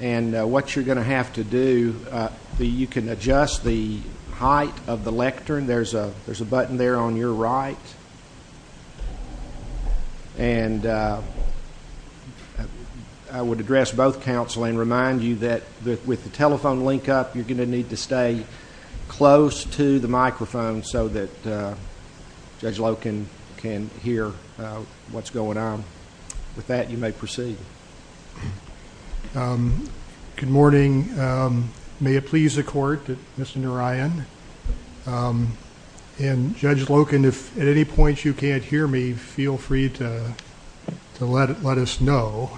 And what you're going to have to do, you can adjust the height of the lectern. There's a button there on your right. And I would address both counsel and remind you that with the telephone link up, you're going to need to stay close to the microphone so that Judge Loken can hear what's going on. With that, you may proceed. Good morning. May it please the Court that Mr. Narayan and Judge Loken, if at any point you can't hear me, feel free to let us know.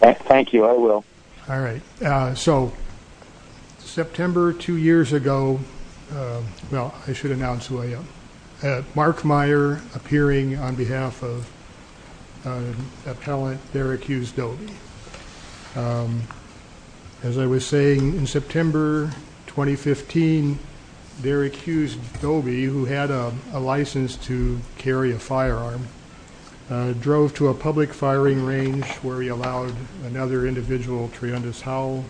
Thank you. I will. All right. So September two years ago, well, I should announce William, Mark Meyer appearing on behalf of appellant Derek Hughes-Doby. As I was saying, in September 2015, Derek Hughes-Doby, who had a license to carry a firearm, drove to a public firing range where he allowed another individual, Triundis Howell,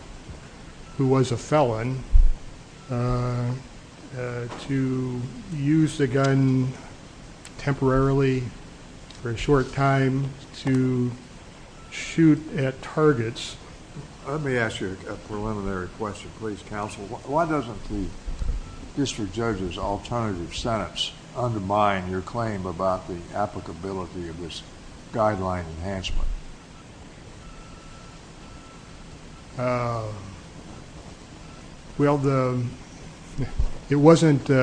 who was a felon, to use the gun temporarily for a short time to shoot at targets. Let me ask you a preliminary question, please, counsel. Why doesn't the district judge's alternative sentence undermine your claim about the applicability of this guideline enhancement? Well, it wasn't in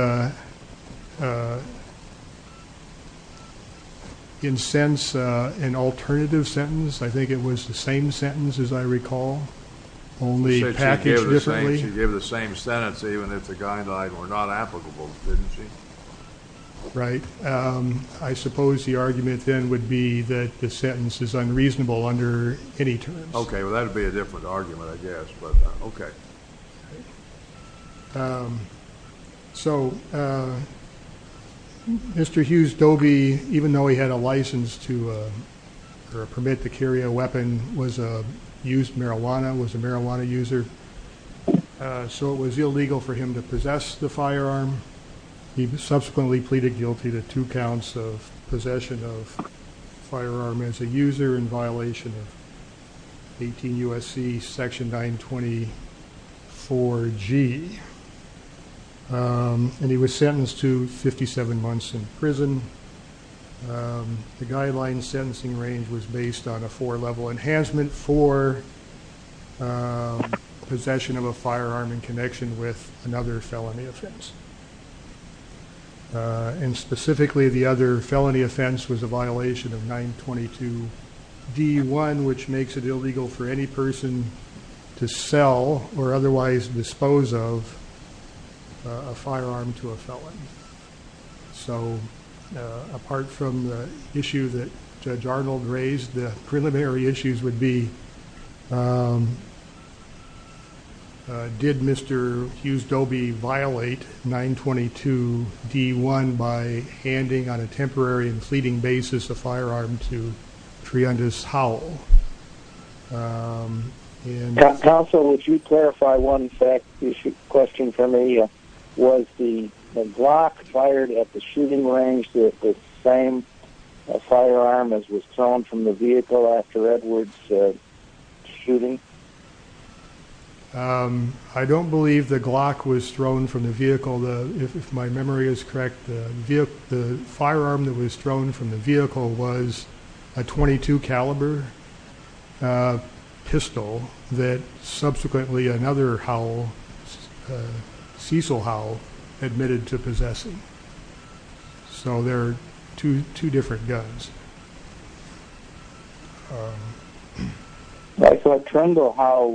a sense an alternative sentence. I think it was the same sentence, as I recall, only packaged differently. She gave the same sentence even if the guidelines were not applicable, didn't she? Right. I suppose the argument then would be that the sentence is unreasonable under any terms. Okay. Well, that would be a different argument, I guess, but okay. So Mr. Hughes-Doby, even though he had a license to or a permit to carry a weapon, used marijuana, was a marijuana user. So it was illegal for him to possess the firearm. He subsequently pleaded guilty to two counts of possession of a firearm as a user in violation of 18 U.S.C. section 924G, and he was sentenced to 57 months in prison. The guideline sentencing range was based on a four-level enhancement for possession of a firearm in connection with another felony offense. And specifically, the other felony offense was a violation of 922D1, which makes it illegal for any person to sell or otherwise dispose of a firearm to a felon. So apart from the issue that Judge Arnold raised, the preliminary issues would be, did Mr. Hughes-Doby violate 922D1 by handing on a temporary and fleeting basis a firearm to Triundis Howell? Counsel, would you clarify one question for me? Was the Glock fired at the shooting range the same firearm as was thrown from the vehicle after Edward's shooting? I don't believe the Glock was thrown from the vehicle, if my memory is correct. The firearm that was thrown from the vehicle was a .22 caliber pistol that subsequently another Howell, Cecil Howell, admitted to possessing. So they're two different guns. I thought Triundis Howell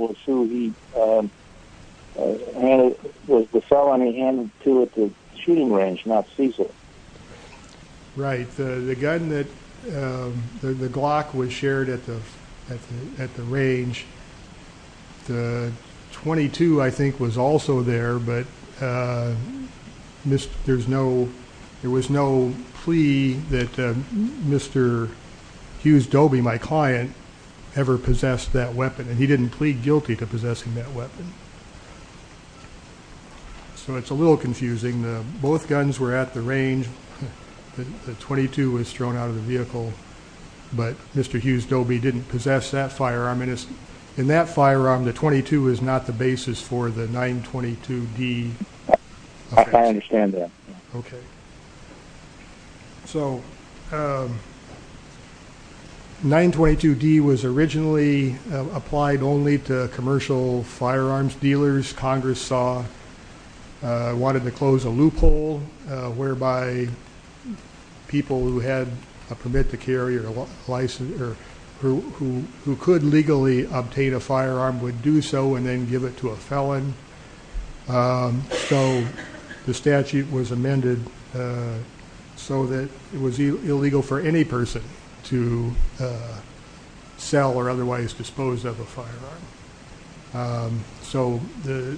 was the felon he handed to at the shooting range, not Cecil. Right, the gun that the Glock was shared at the range, the .22 I think was also there, but there was no plea that Mr. Hughes-Doby, my client, ever possessed that weapon, and he didn't plead guilty to possessing that weapon. So it's a little confusing. Both guns were at the range. The .22 was thrown out of the vehicle, but Mr. Hughes-Doby didn't possess that firearm. In that firearm, the .22 is not the basis for the 922D. I understand that. 922D was originally applied only to commercial firearms dealers. Congress wanted to close a loophole whereby people who had a permit to carry or who could legally obtain a firearm would do so and then give it to a felon. So the statute was amended so that it was illegal for any person to sell or otherwise dispose of a firearm. So the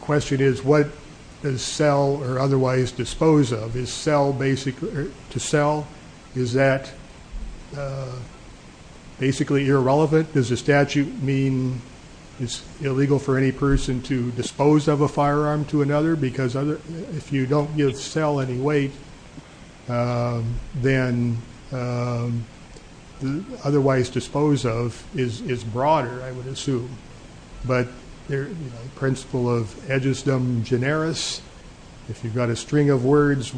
question is, what does sell or otherwise dispose of? To sell, is that basically irrelevant? Does the statute mean it's illegal for any person to dispose of a firearm to another? If you don't give sell any weight, then otherwise dispose of is broader, I would assume. But the principle of aegisdum generis, if you've got a string of words,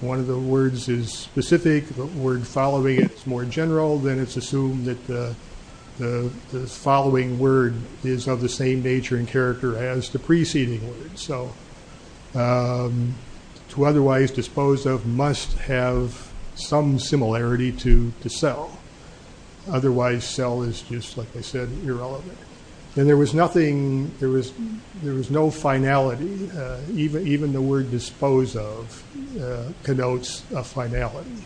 one of the words is specific, the word following it is more general, then it's assumed that the following word is of the same nature and character as the preceding word. To otherwise dispose of must have some similarity to sell. Otherwise, sell is just, like I said, irrelevant. And there was nothing, there was no finality. Even the word dispose of connotes a finality.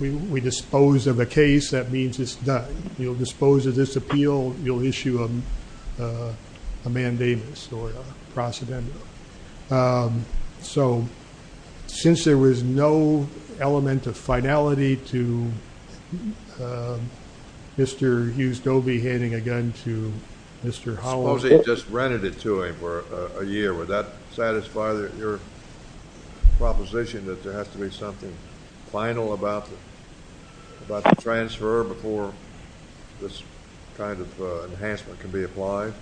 We dispose of a case, that means it's done. You'll dispose of this appeal, you'll issue a mandamus or a procedendo. So since there was no element of finality to Mr. Hughes-Dobie handing a gun to Mr. Holland. Suppose he just rented it to him for a year. Would that satisfy your proposition that there has to be something final about the transfer before this kind of enhancement can be applied?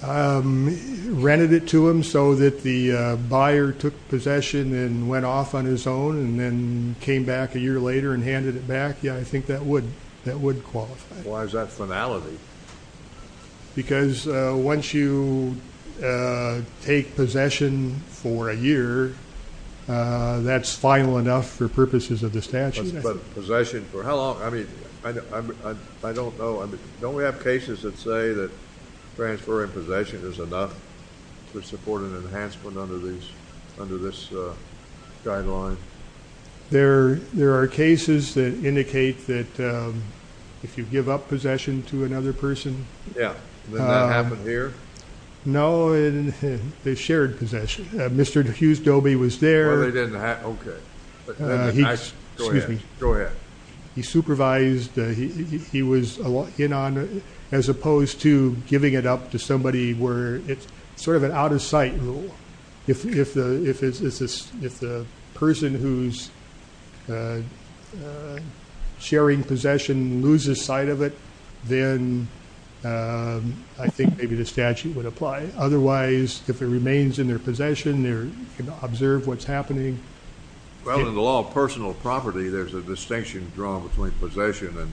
Rented it to him so that the buyer took possession and went off on his own and then came back a year later and handed it back? Yeah, I think that would qualify. Why is that finality? Because once you take possession for a year, that's final enough for purposes of the statute. But possession for how long? I mean, I don't know. Don't we have cases that say that transferring possession is enough to support an enhancement under this guideline? There are cases that indicate that if you give up possession to another person. Yeah, did that happen here? No, they shared possession. Mr. Hughes-Dobie was there. He supervised, he was in on it, as opposed to giving it up to somebody where it's sort of an out of sight rule. If the person who's sharing possession loses sight of it, then I think maybe the statute would apply. Otherwise, if it remains in their possession, they can observe what's happening. Well, in the law of personal property, there's a distinction drawn between possession and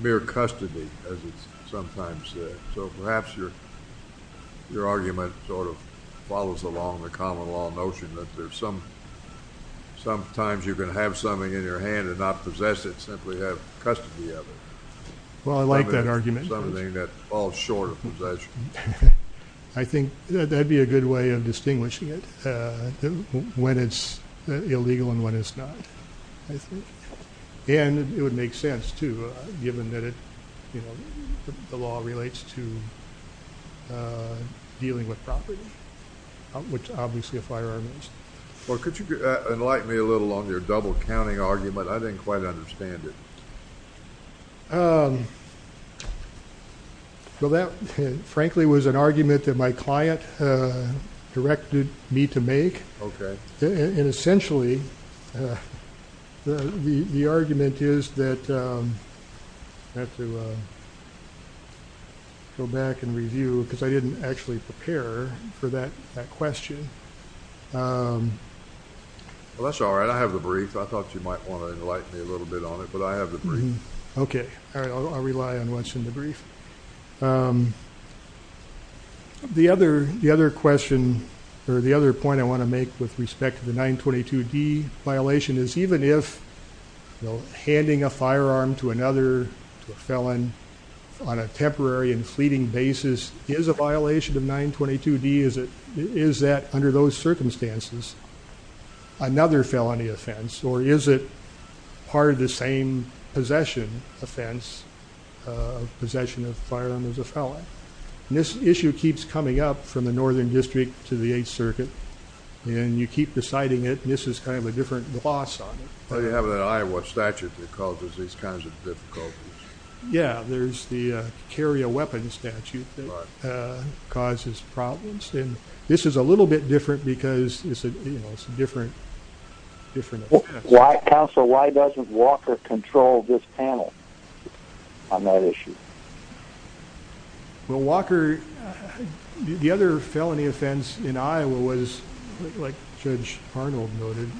mere custody, as it's sometimes said. So perhaps your argument sort of follows along the common law notion that sometimes you can have something in your hand and not possess it, simply have custody of it. Well, I like that argument. Something that falls short of possession. I think that would be a good way of distinguishing it, when it's illegal and when it's not, I think. And it would make sense, too, given that the law relates to dealing with property, which obviously a firearm is. Well, could you enlighten me a little on your double-counting argument? I didn't quite understand it. Well, that, frankly, was an argument that my client directed me to make. Okay. And essentially, the argument is that I have to go back and review, because I didn't actually prepare for that question. Well, that's all right. I have the brief. I thought you might want to enlighten me a little bit on it, but I have the brief. Okay. All right. I'll rely on what's in the brief. The other question, or the other point I want to make with respect to the 922D violation, is even if handing a firearm to another felon on a temporary and fleeting basis is a violation of 922D, is that, under those circumstances, another felony offense? Or is it part of the same possession offense, possession of a firearm as a felon? And this issue keeps coming up from the Northern District to the Eighth Circuit, and you keep deciding it. And this is kind of a different gloss on it. Are you having an eye on what statute that causes these kinds of difficulties? Yeah. There's the carry a weapon statute that causes problems. And this is a little bit different because it's a different offense. Counsel, why doesn't Walker control this panel on that issue? Well, Walker, the other felony offense in Iowa was, like Judge Arnold noted,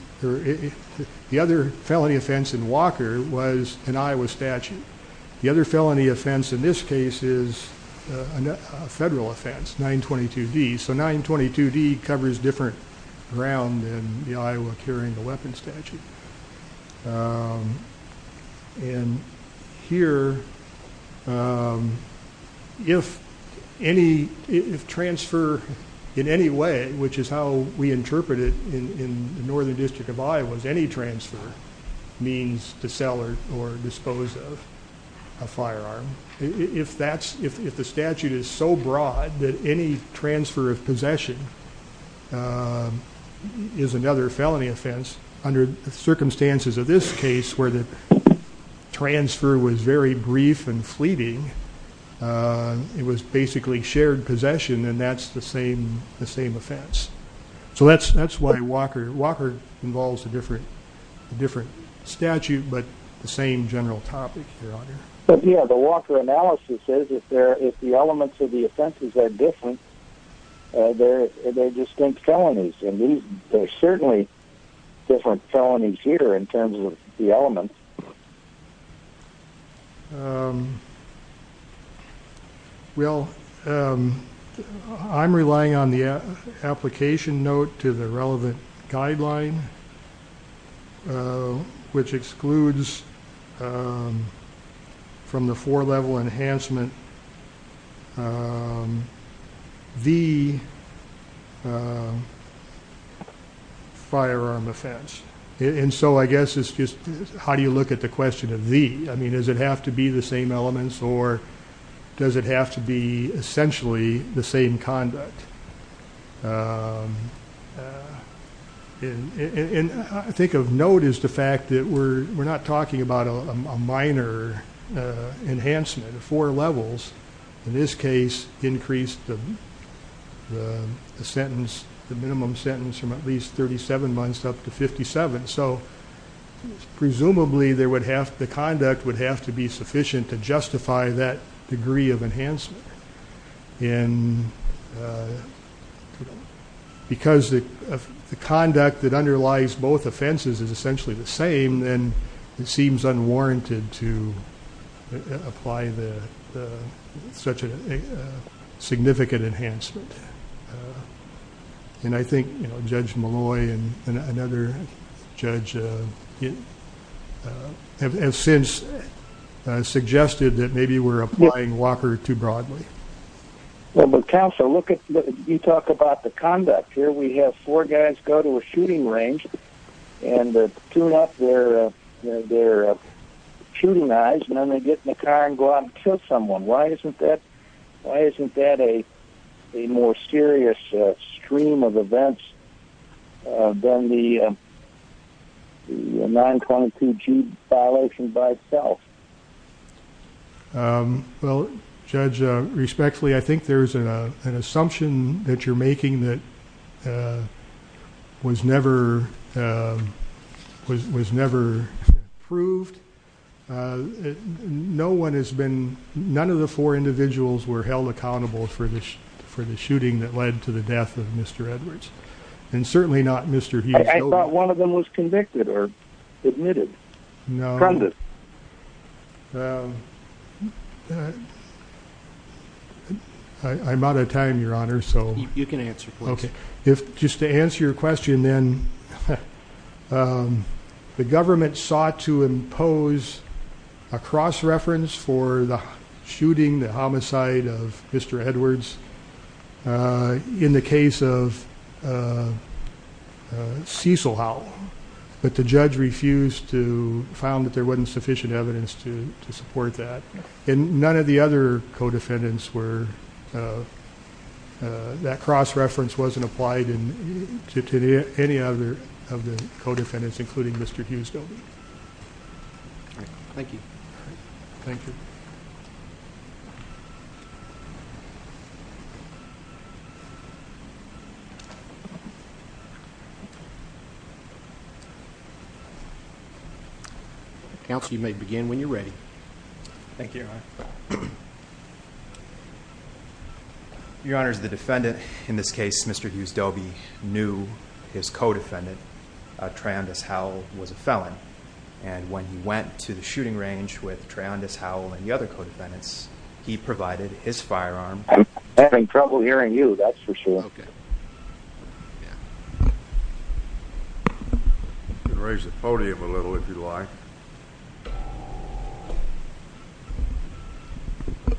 the other felony offense in Walker was an Iowa statute. The other felony offense in this case is a federal offense, 922D. So 922D covers different ground than the Iowa carry a weapon statute. And here, if transfer in any way, which is how we interpret it in the Northern District of Iowa, any transfer means to sell or dispose of a firearm. If the statute is so broad that any transfer of possession is another felony offense, under the circumstances of this case where the transfer was very brief and fleeting, it was basically shared possession, and that's the same offense. So that's why Walker involves a different statute but the same general topic here on it. But, yeah, the Walker analysis says if the elements of the offenses are different, they're distinct felonies. And there's certainly different felonies here in terms of the elements. Well, I'm relying on the application note to the relevant guideline, which excludes from the four-level enhancement the firearm offense. And so I guess it's just how do you look at the question of the. I mean, does it have to be the same elements, or does it have to be essentially the same conduct? And I think of note is the fact that we're not talking about a minor enhancement of four levels. In this case, increase the sentence, the minimum sentence from at least 37 months up to 57. So presumably the conduct would have to be sufficient to justify that degree of enhancement. And because the conduct that underlies both offenses is essentially the same, then it seems unwarranted to apply such a significant enhancement. And I think Judge Malloy and another judge have since suggested that maybe we're applying Walker too broadly. Well, but counsel, you talk about the conduct here. We have four guys go to a shooting range and tune up their shooting eyes, and then they get in the car and go out and kill someone. Why isn't that a more serious stream of events than the 922G violation by itself? Well, Judge, respectfully, I think there's an assumption that you're making that was never proved. None of the four individuals were held accountable for the shooting that led to the death of Mr. Edwards, and certainly not Mr. Hughes. I thought one of them was convicted or admitted. No. Conduct. I'm out of time, Your Honor. You can answer, please. Just to answer your question, then, the government sought to impose a cross-reference for the shooting, the homicide of Mr. Edwards in the case of Cecil Howell, but the judge refused, found that there wasn't sufficient evidence to support that. And none of the other co-defendants were. That cross-reference wasn't applied to any of the co-defendants, including Mr. Hughes, though. Thank you. Thank you. Thank you, Your Honor. Your Honor, the defendant in this case, Mr. Hughes-Dobie, knew his co-defendant, Triandis Howell, was a felon. And when he went to the shooting range with Triandis Howell and the other co-defendants, he provided his firearm. I'm having trouble hearing you, that's for sure. Okay. You can raise the podium a little, if you'd like.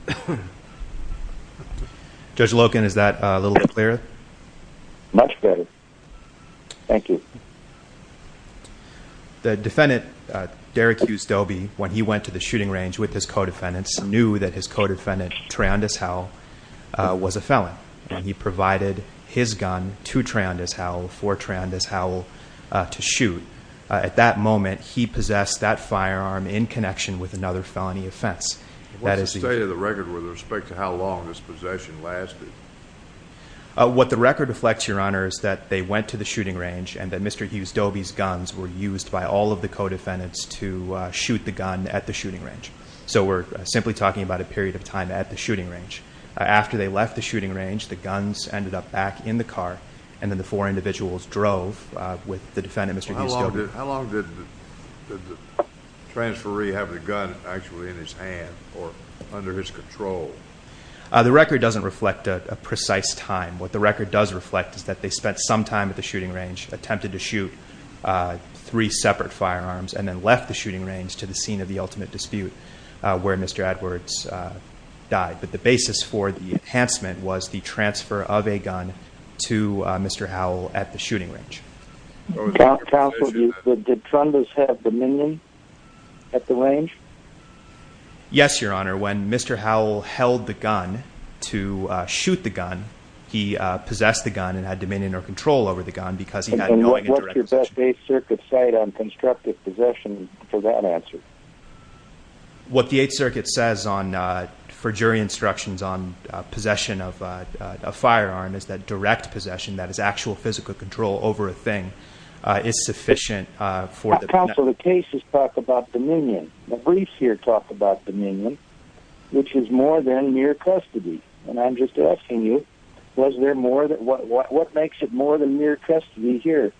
Thank you. Judge Loken, is that a little clearer? Much better. Thank you. The defendant, Derek Hughes-Dobie, when he went to the shooting range with his co-defendants, knew that his co-defendant, Triandis Howell, was a felon. And he provided his gun to Triandis Howell for Triandis Howell to shoot. At that moment, he possessed that firearm in connection with another felony offense. What's the state of the record with respect to how long this possession lasted? What the record reflects, Your Honor, is that they went to the shooting range and that Mr. Hughes-Dobie's guns were used by all of the co-defendants to shoot the gun at the shooting range. So we're simply talking about a period of time at the shooting range. After they left the shooting range, the guns ended up back in the car, How long did the transferee have the gun actually in his hand or under his control? The record doesn't reflect a precise time. What the record does reflect is that they spent some time at the shooting range, attempted to shoot three separate firearms, and then left the shooting range to the scene of the ultimate dispute where Mr. Edwards died. But the basis for the enhancement was the transfer of a gun to Mr. Howell at the shooting range. Counsel, did Trundles have dominion at the range? Yes, Your Honor. When Mr. Howell held the gun to shoot the gun, he possessed the gun and had dominion or control over the gun because he had no direct possession. What's your best Eighth Circuit cite on constructive possession for that answer? What the Eighth Circuit says for jury instructions on possession of a firearm is that direct possession, that is actual physical control over a thing, is sufficient. Counsel, the cases talk about dominion. The briefs here talk about dominion, which is more than mere custody. And I'm just asking you, what makes it more than mere custody here?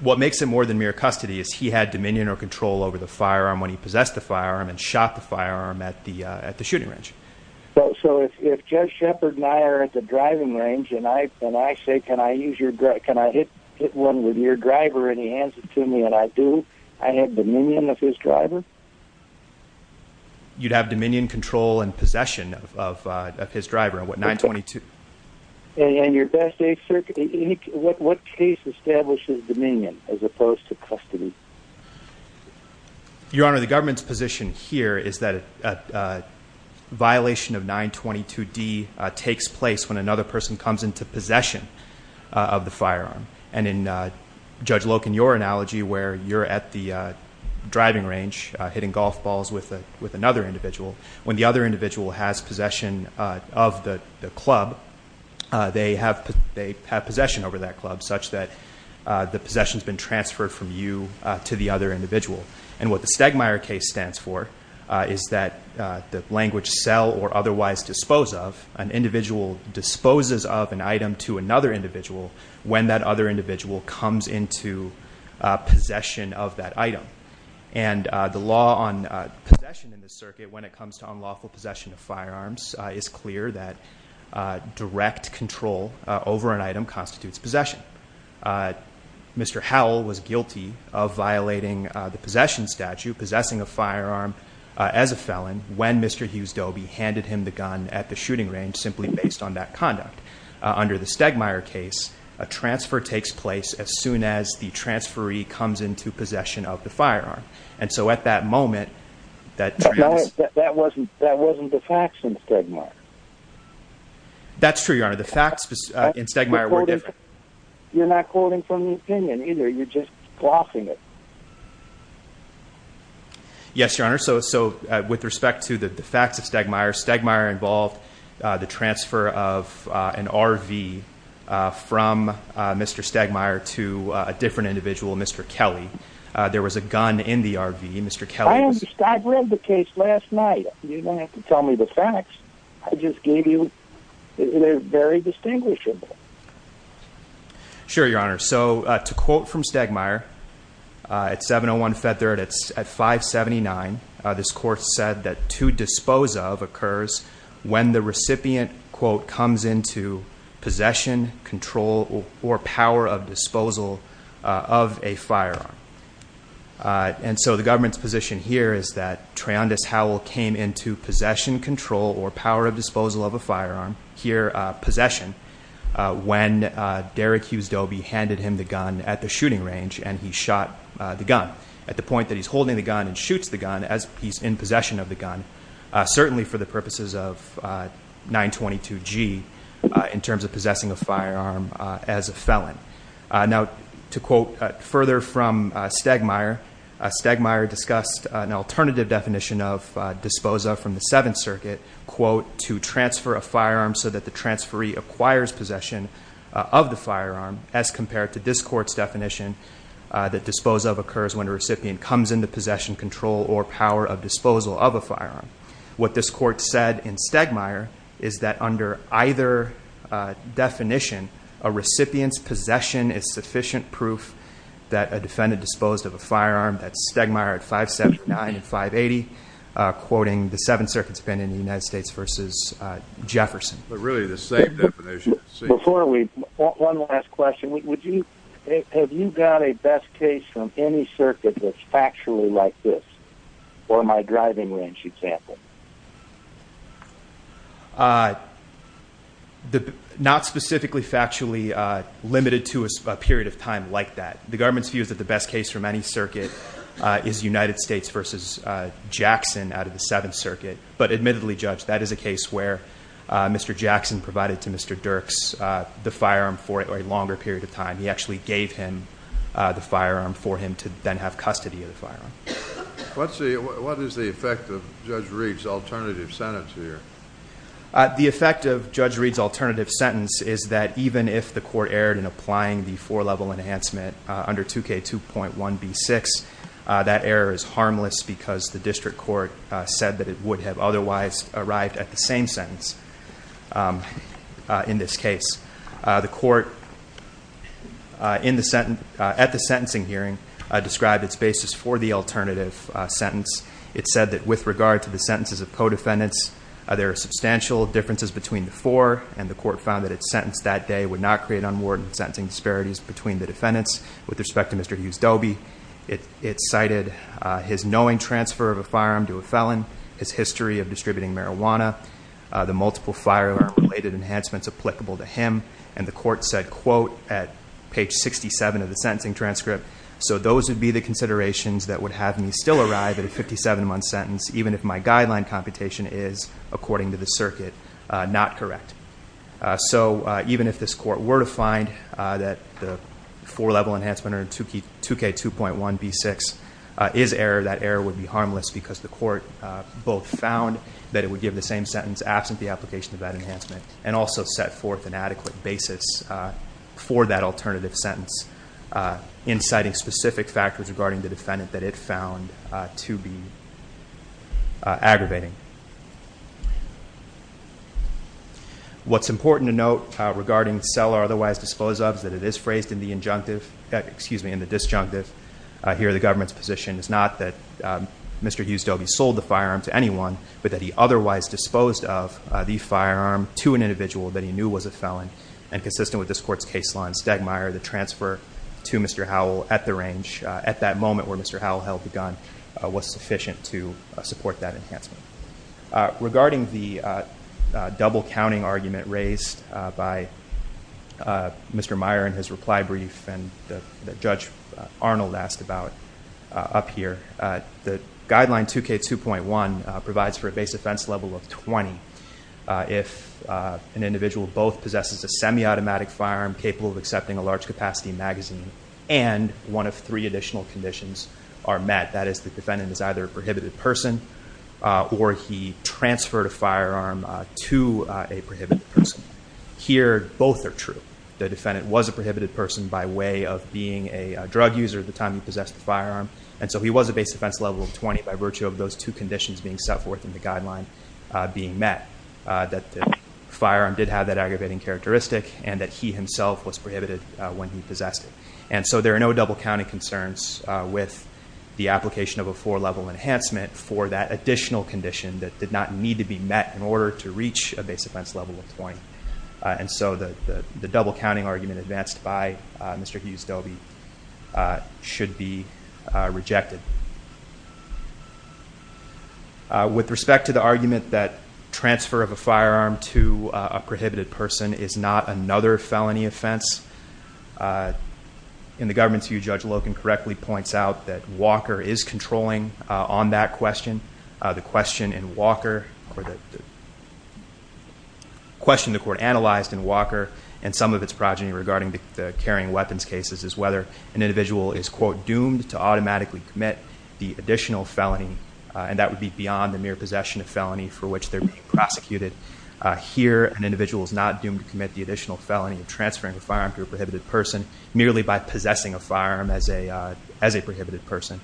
What makes it more than mere custody is he had dominion or control over the firearm when he possessed the firearm and shot the firearm at the shooting range. So if Judge Shepard and I are at the driving range and I say, can I hit one with your driver and he hands it to me and I do, I have dominion of his driver? You'd have dominion, control, and possession of his driver on what, 922? And your best Eighth Circuit, what case establishes dominion as opposed to custody? Your Honor, the government's position here is that a violation of 922D takes place when another person comes into possession of the firearm. And in Judge Loken, your analogy where you're at the driving range hitting golf balls with another individual, when the other individual has possession of the club, they have possession over that club such that the possession's been transferred from you to the other individual. And what the Stegmeyer case stands for is that the language sell or otherwise dispose of, an individual disposes of an item to another individual when that other individual comes into possession of that item. And the law on possession in this circuit when it comes to unlawful possession of firearms is clear that direct control over an item constitutes possession. Mr. Howell was guilty of violating the possession statute, possessing a firearm as a felon, when Mr. Hughes-Dobie handed him the gun at the shooting range simply based on that conduct. Under the Stegmeyer case, a transfer takes place as soon as the transferee comes into possession of the firearm. And so at that moment, that transfer... But that wasn't the facts in Stegmeyer. That's true, your Honor. The facts in Stegmeyer were different. You're not quoting from the opinion either. You're just glossing it. Yes, your Honor. So with respect to the facts of Stegmeyer, Stegmeyer involved the transfer of an RV from Mr. Stegmeyer to a different individual, Mr. Kelly. There was a gun in the RV. Mr. Kelly was... I read the case last night. You don't have to tell me the facts. I just gave you... They're very distinguishable. Sure, your Honor. So to quote from Stegmeyer, at 701 Fetzer, at 579, this court said that to dispose of occurs when the recipient, quote, comes into possession, control, or power of disposal of a firearm. And so the government's position here is that Treondas Howell came into possession, control, or power of disposal of a firearm, here possession, when Derek Hughes-Dobie handed him the gun at the shooting range and he shot the gun at the point that he's holding the gun and shoots the gun as he's in possession of the gun, certainly for the purposes of 922 G, in terms of possessing a firearm as a felon. Now, to quote further from Stegmeyer, Stegmeyer discussed an alternative definition of disposa from the Seventh Circuit, quote, to transfer a firearm so that the transferee acquires possession of the firearm as compared to this court's definition that dispose of occurs when a recipient comes into possession, control, or power of disposal of a firearm. What this court said in Stegmeyer is that under either definition, a recipient's possession is sufficient proof that a defendant disposed of a firearm. That's Stegmeyer at 579 and 580, quoting the Seventh Circuit's opinion in the United States versus Jefferson. But really the same definition. Before we, one last question. Would you, have you got a best case from any circuit that's factually like this or my driving range example? Not specifically factually limited to a period of time like that. The government's view is that the best case from any circuit is United States versus Jackson out of the Seventh Circuit. But admittedly, Judge, that is a case where Mr. Jackson provided to Mr. Dirks the firearm for a longer period of time. He actually gave him the firearm for him to then have custody of the firearm. What is the effect of Judge Reed's alternative sentence here? The effect of Judge Reed's alternative sentence is that even if the court erred in applying the four-level enhancement under 2K2.1b6, that error is harmless because the district court said that it would have otherwise arrived at the same sentence in this case. The court at the sentencing hearing described its basis for the alternative sentence. It said that with regard to the sentences of co-defendants, there are substantial differences between the four, and the court found that its sentence that day would not create unwarranted sentencing disparities between the defendants. With respect to Mr. Hughes-Dobie, it cited his knowing transfer of a firearm to a felon, his history of distributing marijuana, the multiple firearm-related enhancements applicable to him, and the court said, quote, at page 67 of the sentencing transcript, so those would be the considerations that would have me still arrive at a 57-month sentence even if my guideline computation is, according to the circuit, not correct. So even if this court were to find that the four-level enhancement under 2K2.1b6 is error, that error would be harmless because the court both found that it would give the same sentence absent the application of that enhancement, and also set forth an adequate basis for that alternative sentence, inciting specific factors regarding the defendant that it found to be aggravating. What's important to note regarding sell or otherwise dispose of is that it is phrased in the injunctive, excuse me, in the disjunctive. Here the government's position is not that Mr. Hughes-Dobie sold the firearm to anyone, but that he otherwise disposed of the firearm to an individual that he knew was a felon, and consistent with this court's case law in Stegmaier, the transfer to Mr. Howell at the range, at that moment where Mr. Howell held the gun, was sufficient to support that enhancement. Regarding the double-counting argument raised by Mr. Meyer in his reply brief and that Judge Arnold asked about up here, the guideline 2K2.1 provides for a base offense level of 20 if an individual both possesses a semi-automatic firearm capable of accepting a large-capacity magazine and one of three additional conditions are met, that is the defendant is either a prohibited person or he transferred a firearm to a prohibited person. Here both are true. The defendant was a prohibited person by way of being a drug user at the time he possessed the firearm, and so he was a base offense level of 20 by virtue of those two conditions being set forth in the guideline being met, that the firearm did have that aggravating characteristic and that he himself was prohibited when he possessed it. And so there are no double-counting concerns with the application of a four-level enhancement for that additional condition that did not need to be met in order to reach a base offense level of 20. And so the double-counting argument advanced by Mr. Hughes-Dobie should be rejected. With respect to the argument that transfer of a firearm to a prohibited person is not another felony offense, in the government's view, Judge Loken correctly points out that Walker is controlling on that question. The question in Walker or the question the court analyzed in Walker and some of its progeny regarding the carrying weapons cases is whether an individual is, quote, doomed to automatically commit the additional felony, and that would be beyond the mere possession of felony for which they're being prosecuted. Here an individual is not doomed to commit the additional felony of transferring a firearm to a prohibited person merely by possessing a firearm as a prohibited person.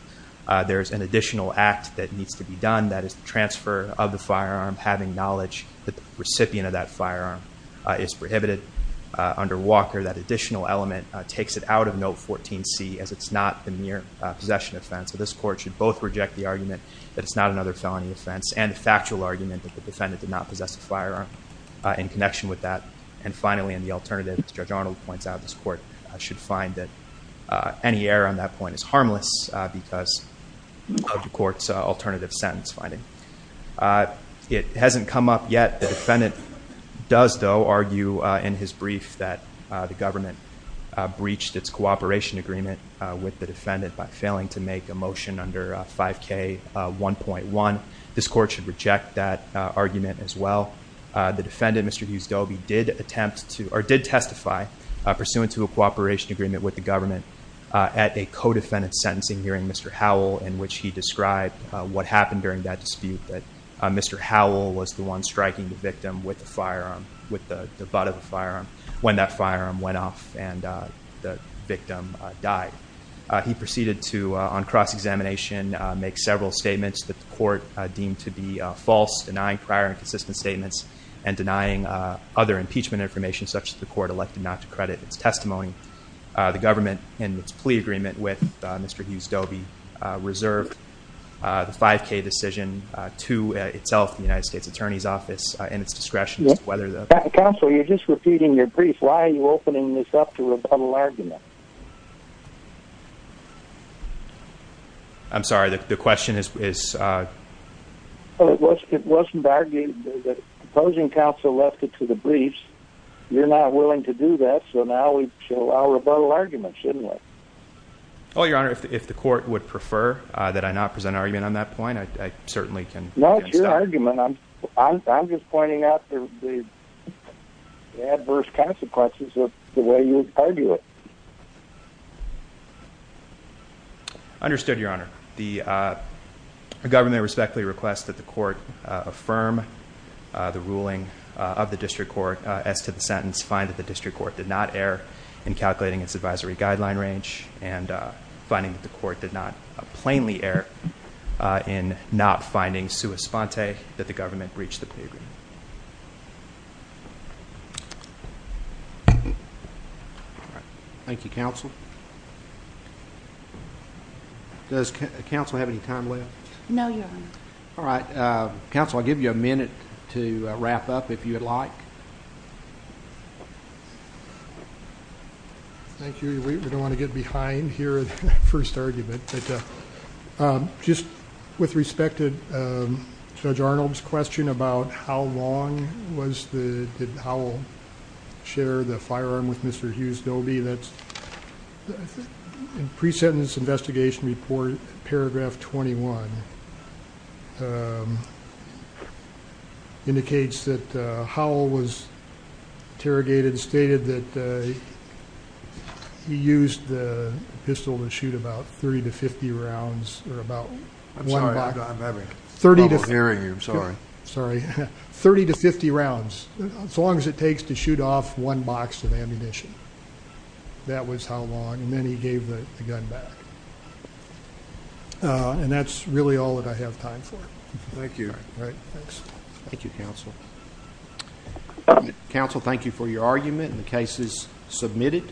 There is an additional act that needs to be done, that is the transfer of the firearm, having knowledge that the recipient of that firearm is prohibited. Under Walker, that additional element takes it out of Note 14c as it's not the mere possession offense. So this court should both reject the argument that it's not another felony offense and the factual argument that the defendant did not possess a firearm in connection with that. And finally, in the alternative, as Judge Arnold points out, this court should find that any error on that point is harmless because of the court's alternative sentence finding. It hasn't come up yet. The defendant does, though, argue in his brief that the government breached its cooperation agreement with the defendant by failing to make a motion under 5K1.1. This court should reject that argument as well. The defendant, Mr. Hughes-Dobie, did attempt to, or did testify, pursuant to a cooperation agreement with the government at a co-defendant sentencing hearing, Mr. Howell, in which he described what happened during that dispute, that Mr. Howell was the one striking the victim with the firearm, with the butt of the firearm, when that firearm went off and the victim died. He proceeded to, on cross-examination, make several statements that the court deemed to be false, denying prior and consistent statements, and denying other impeachment information such that the court elected not to credit its testimony. The government, in its plea agreement with Mr. Hughes-Dobie, reserved the 5K decision to itself, the United States Attorney's Office, in its discretion. Counsel, you're just repeating your brief. Why are you opening this up to a rebuttal argument? I'm sorry, the question is... It wasn't argued. The opposing counsel left it to the briefs. You're not willing to do that, so now we should allow rebuttal arguments, shouldn't we? No, it's your argument. I'm just pointing out the adverse consequences of the way you argue it. As to the sentence, find that the district court did not err in calculating its advisory guideline range and finding that the court did not plainly err in not finding sua sponte that the government breached the plea agreement. Thank you, counsel. Does counsel have any time left? No, Your Honor. All right. Counsel, I'll give you a minute to wrap up if you'd like. Thank you. We don't want to get behind here the first argument. Just with respect to Judge Arnold's question about how long did Howell share the firearm with Mr. Hughes-Dobie, the pre-sentence investigation report, paragraph 21, indicates that Howell was interrogated, stated that he used the pistol to shoot about 30 to 50 rounds, or about one box... I'm sorry, I'm having trouble hearing you. I'm sorry. 30 to 50 rounds, as long as it takes to shoot off one box of ammunition. That was how long, and then he gave the gun back. And that's really all that I have time for. Thank you. All right, thanks. Thank you, counsel. Counsel, thank you for your argument, and the case is submitted.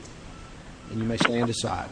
And you may stand aside.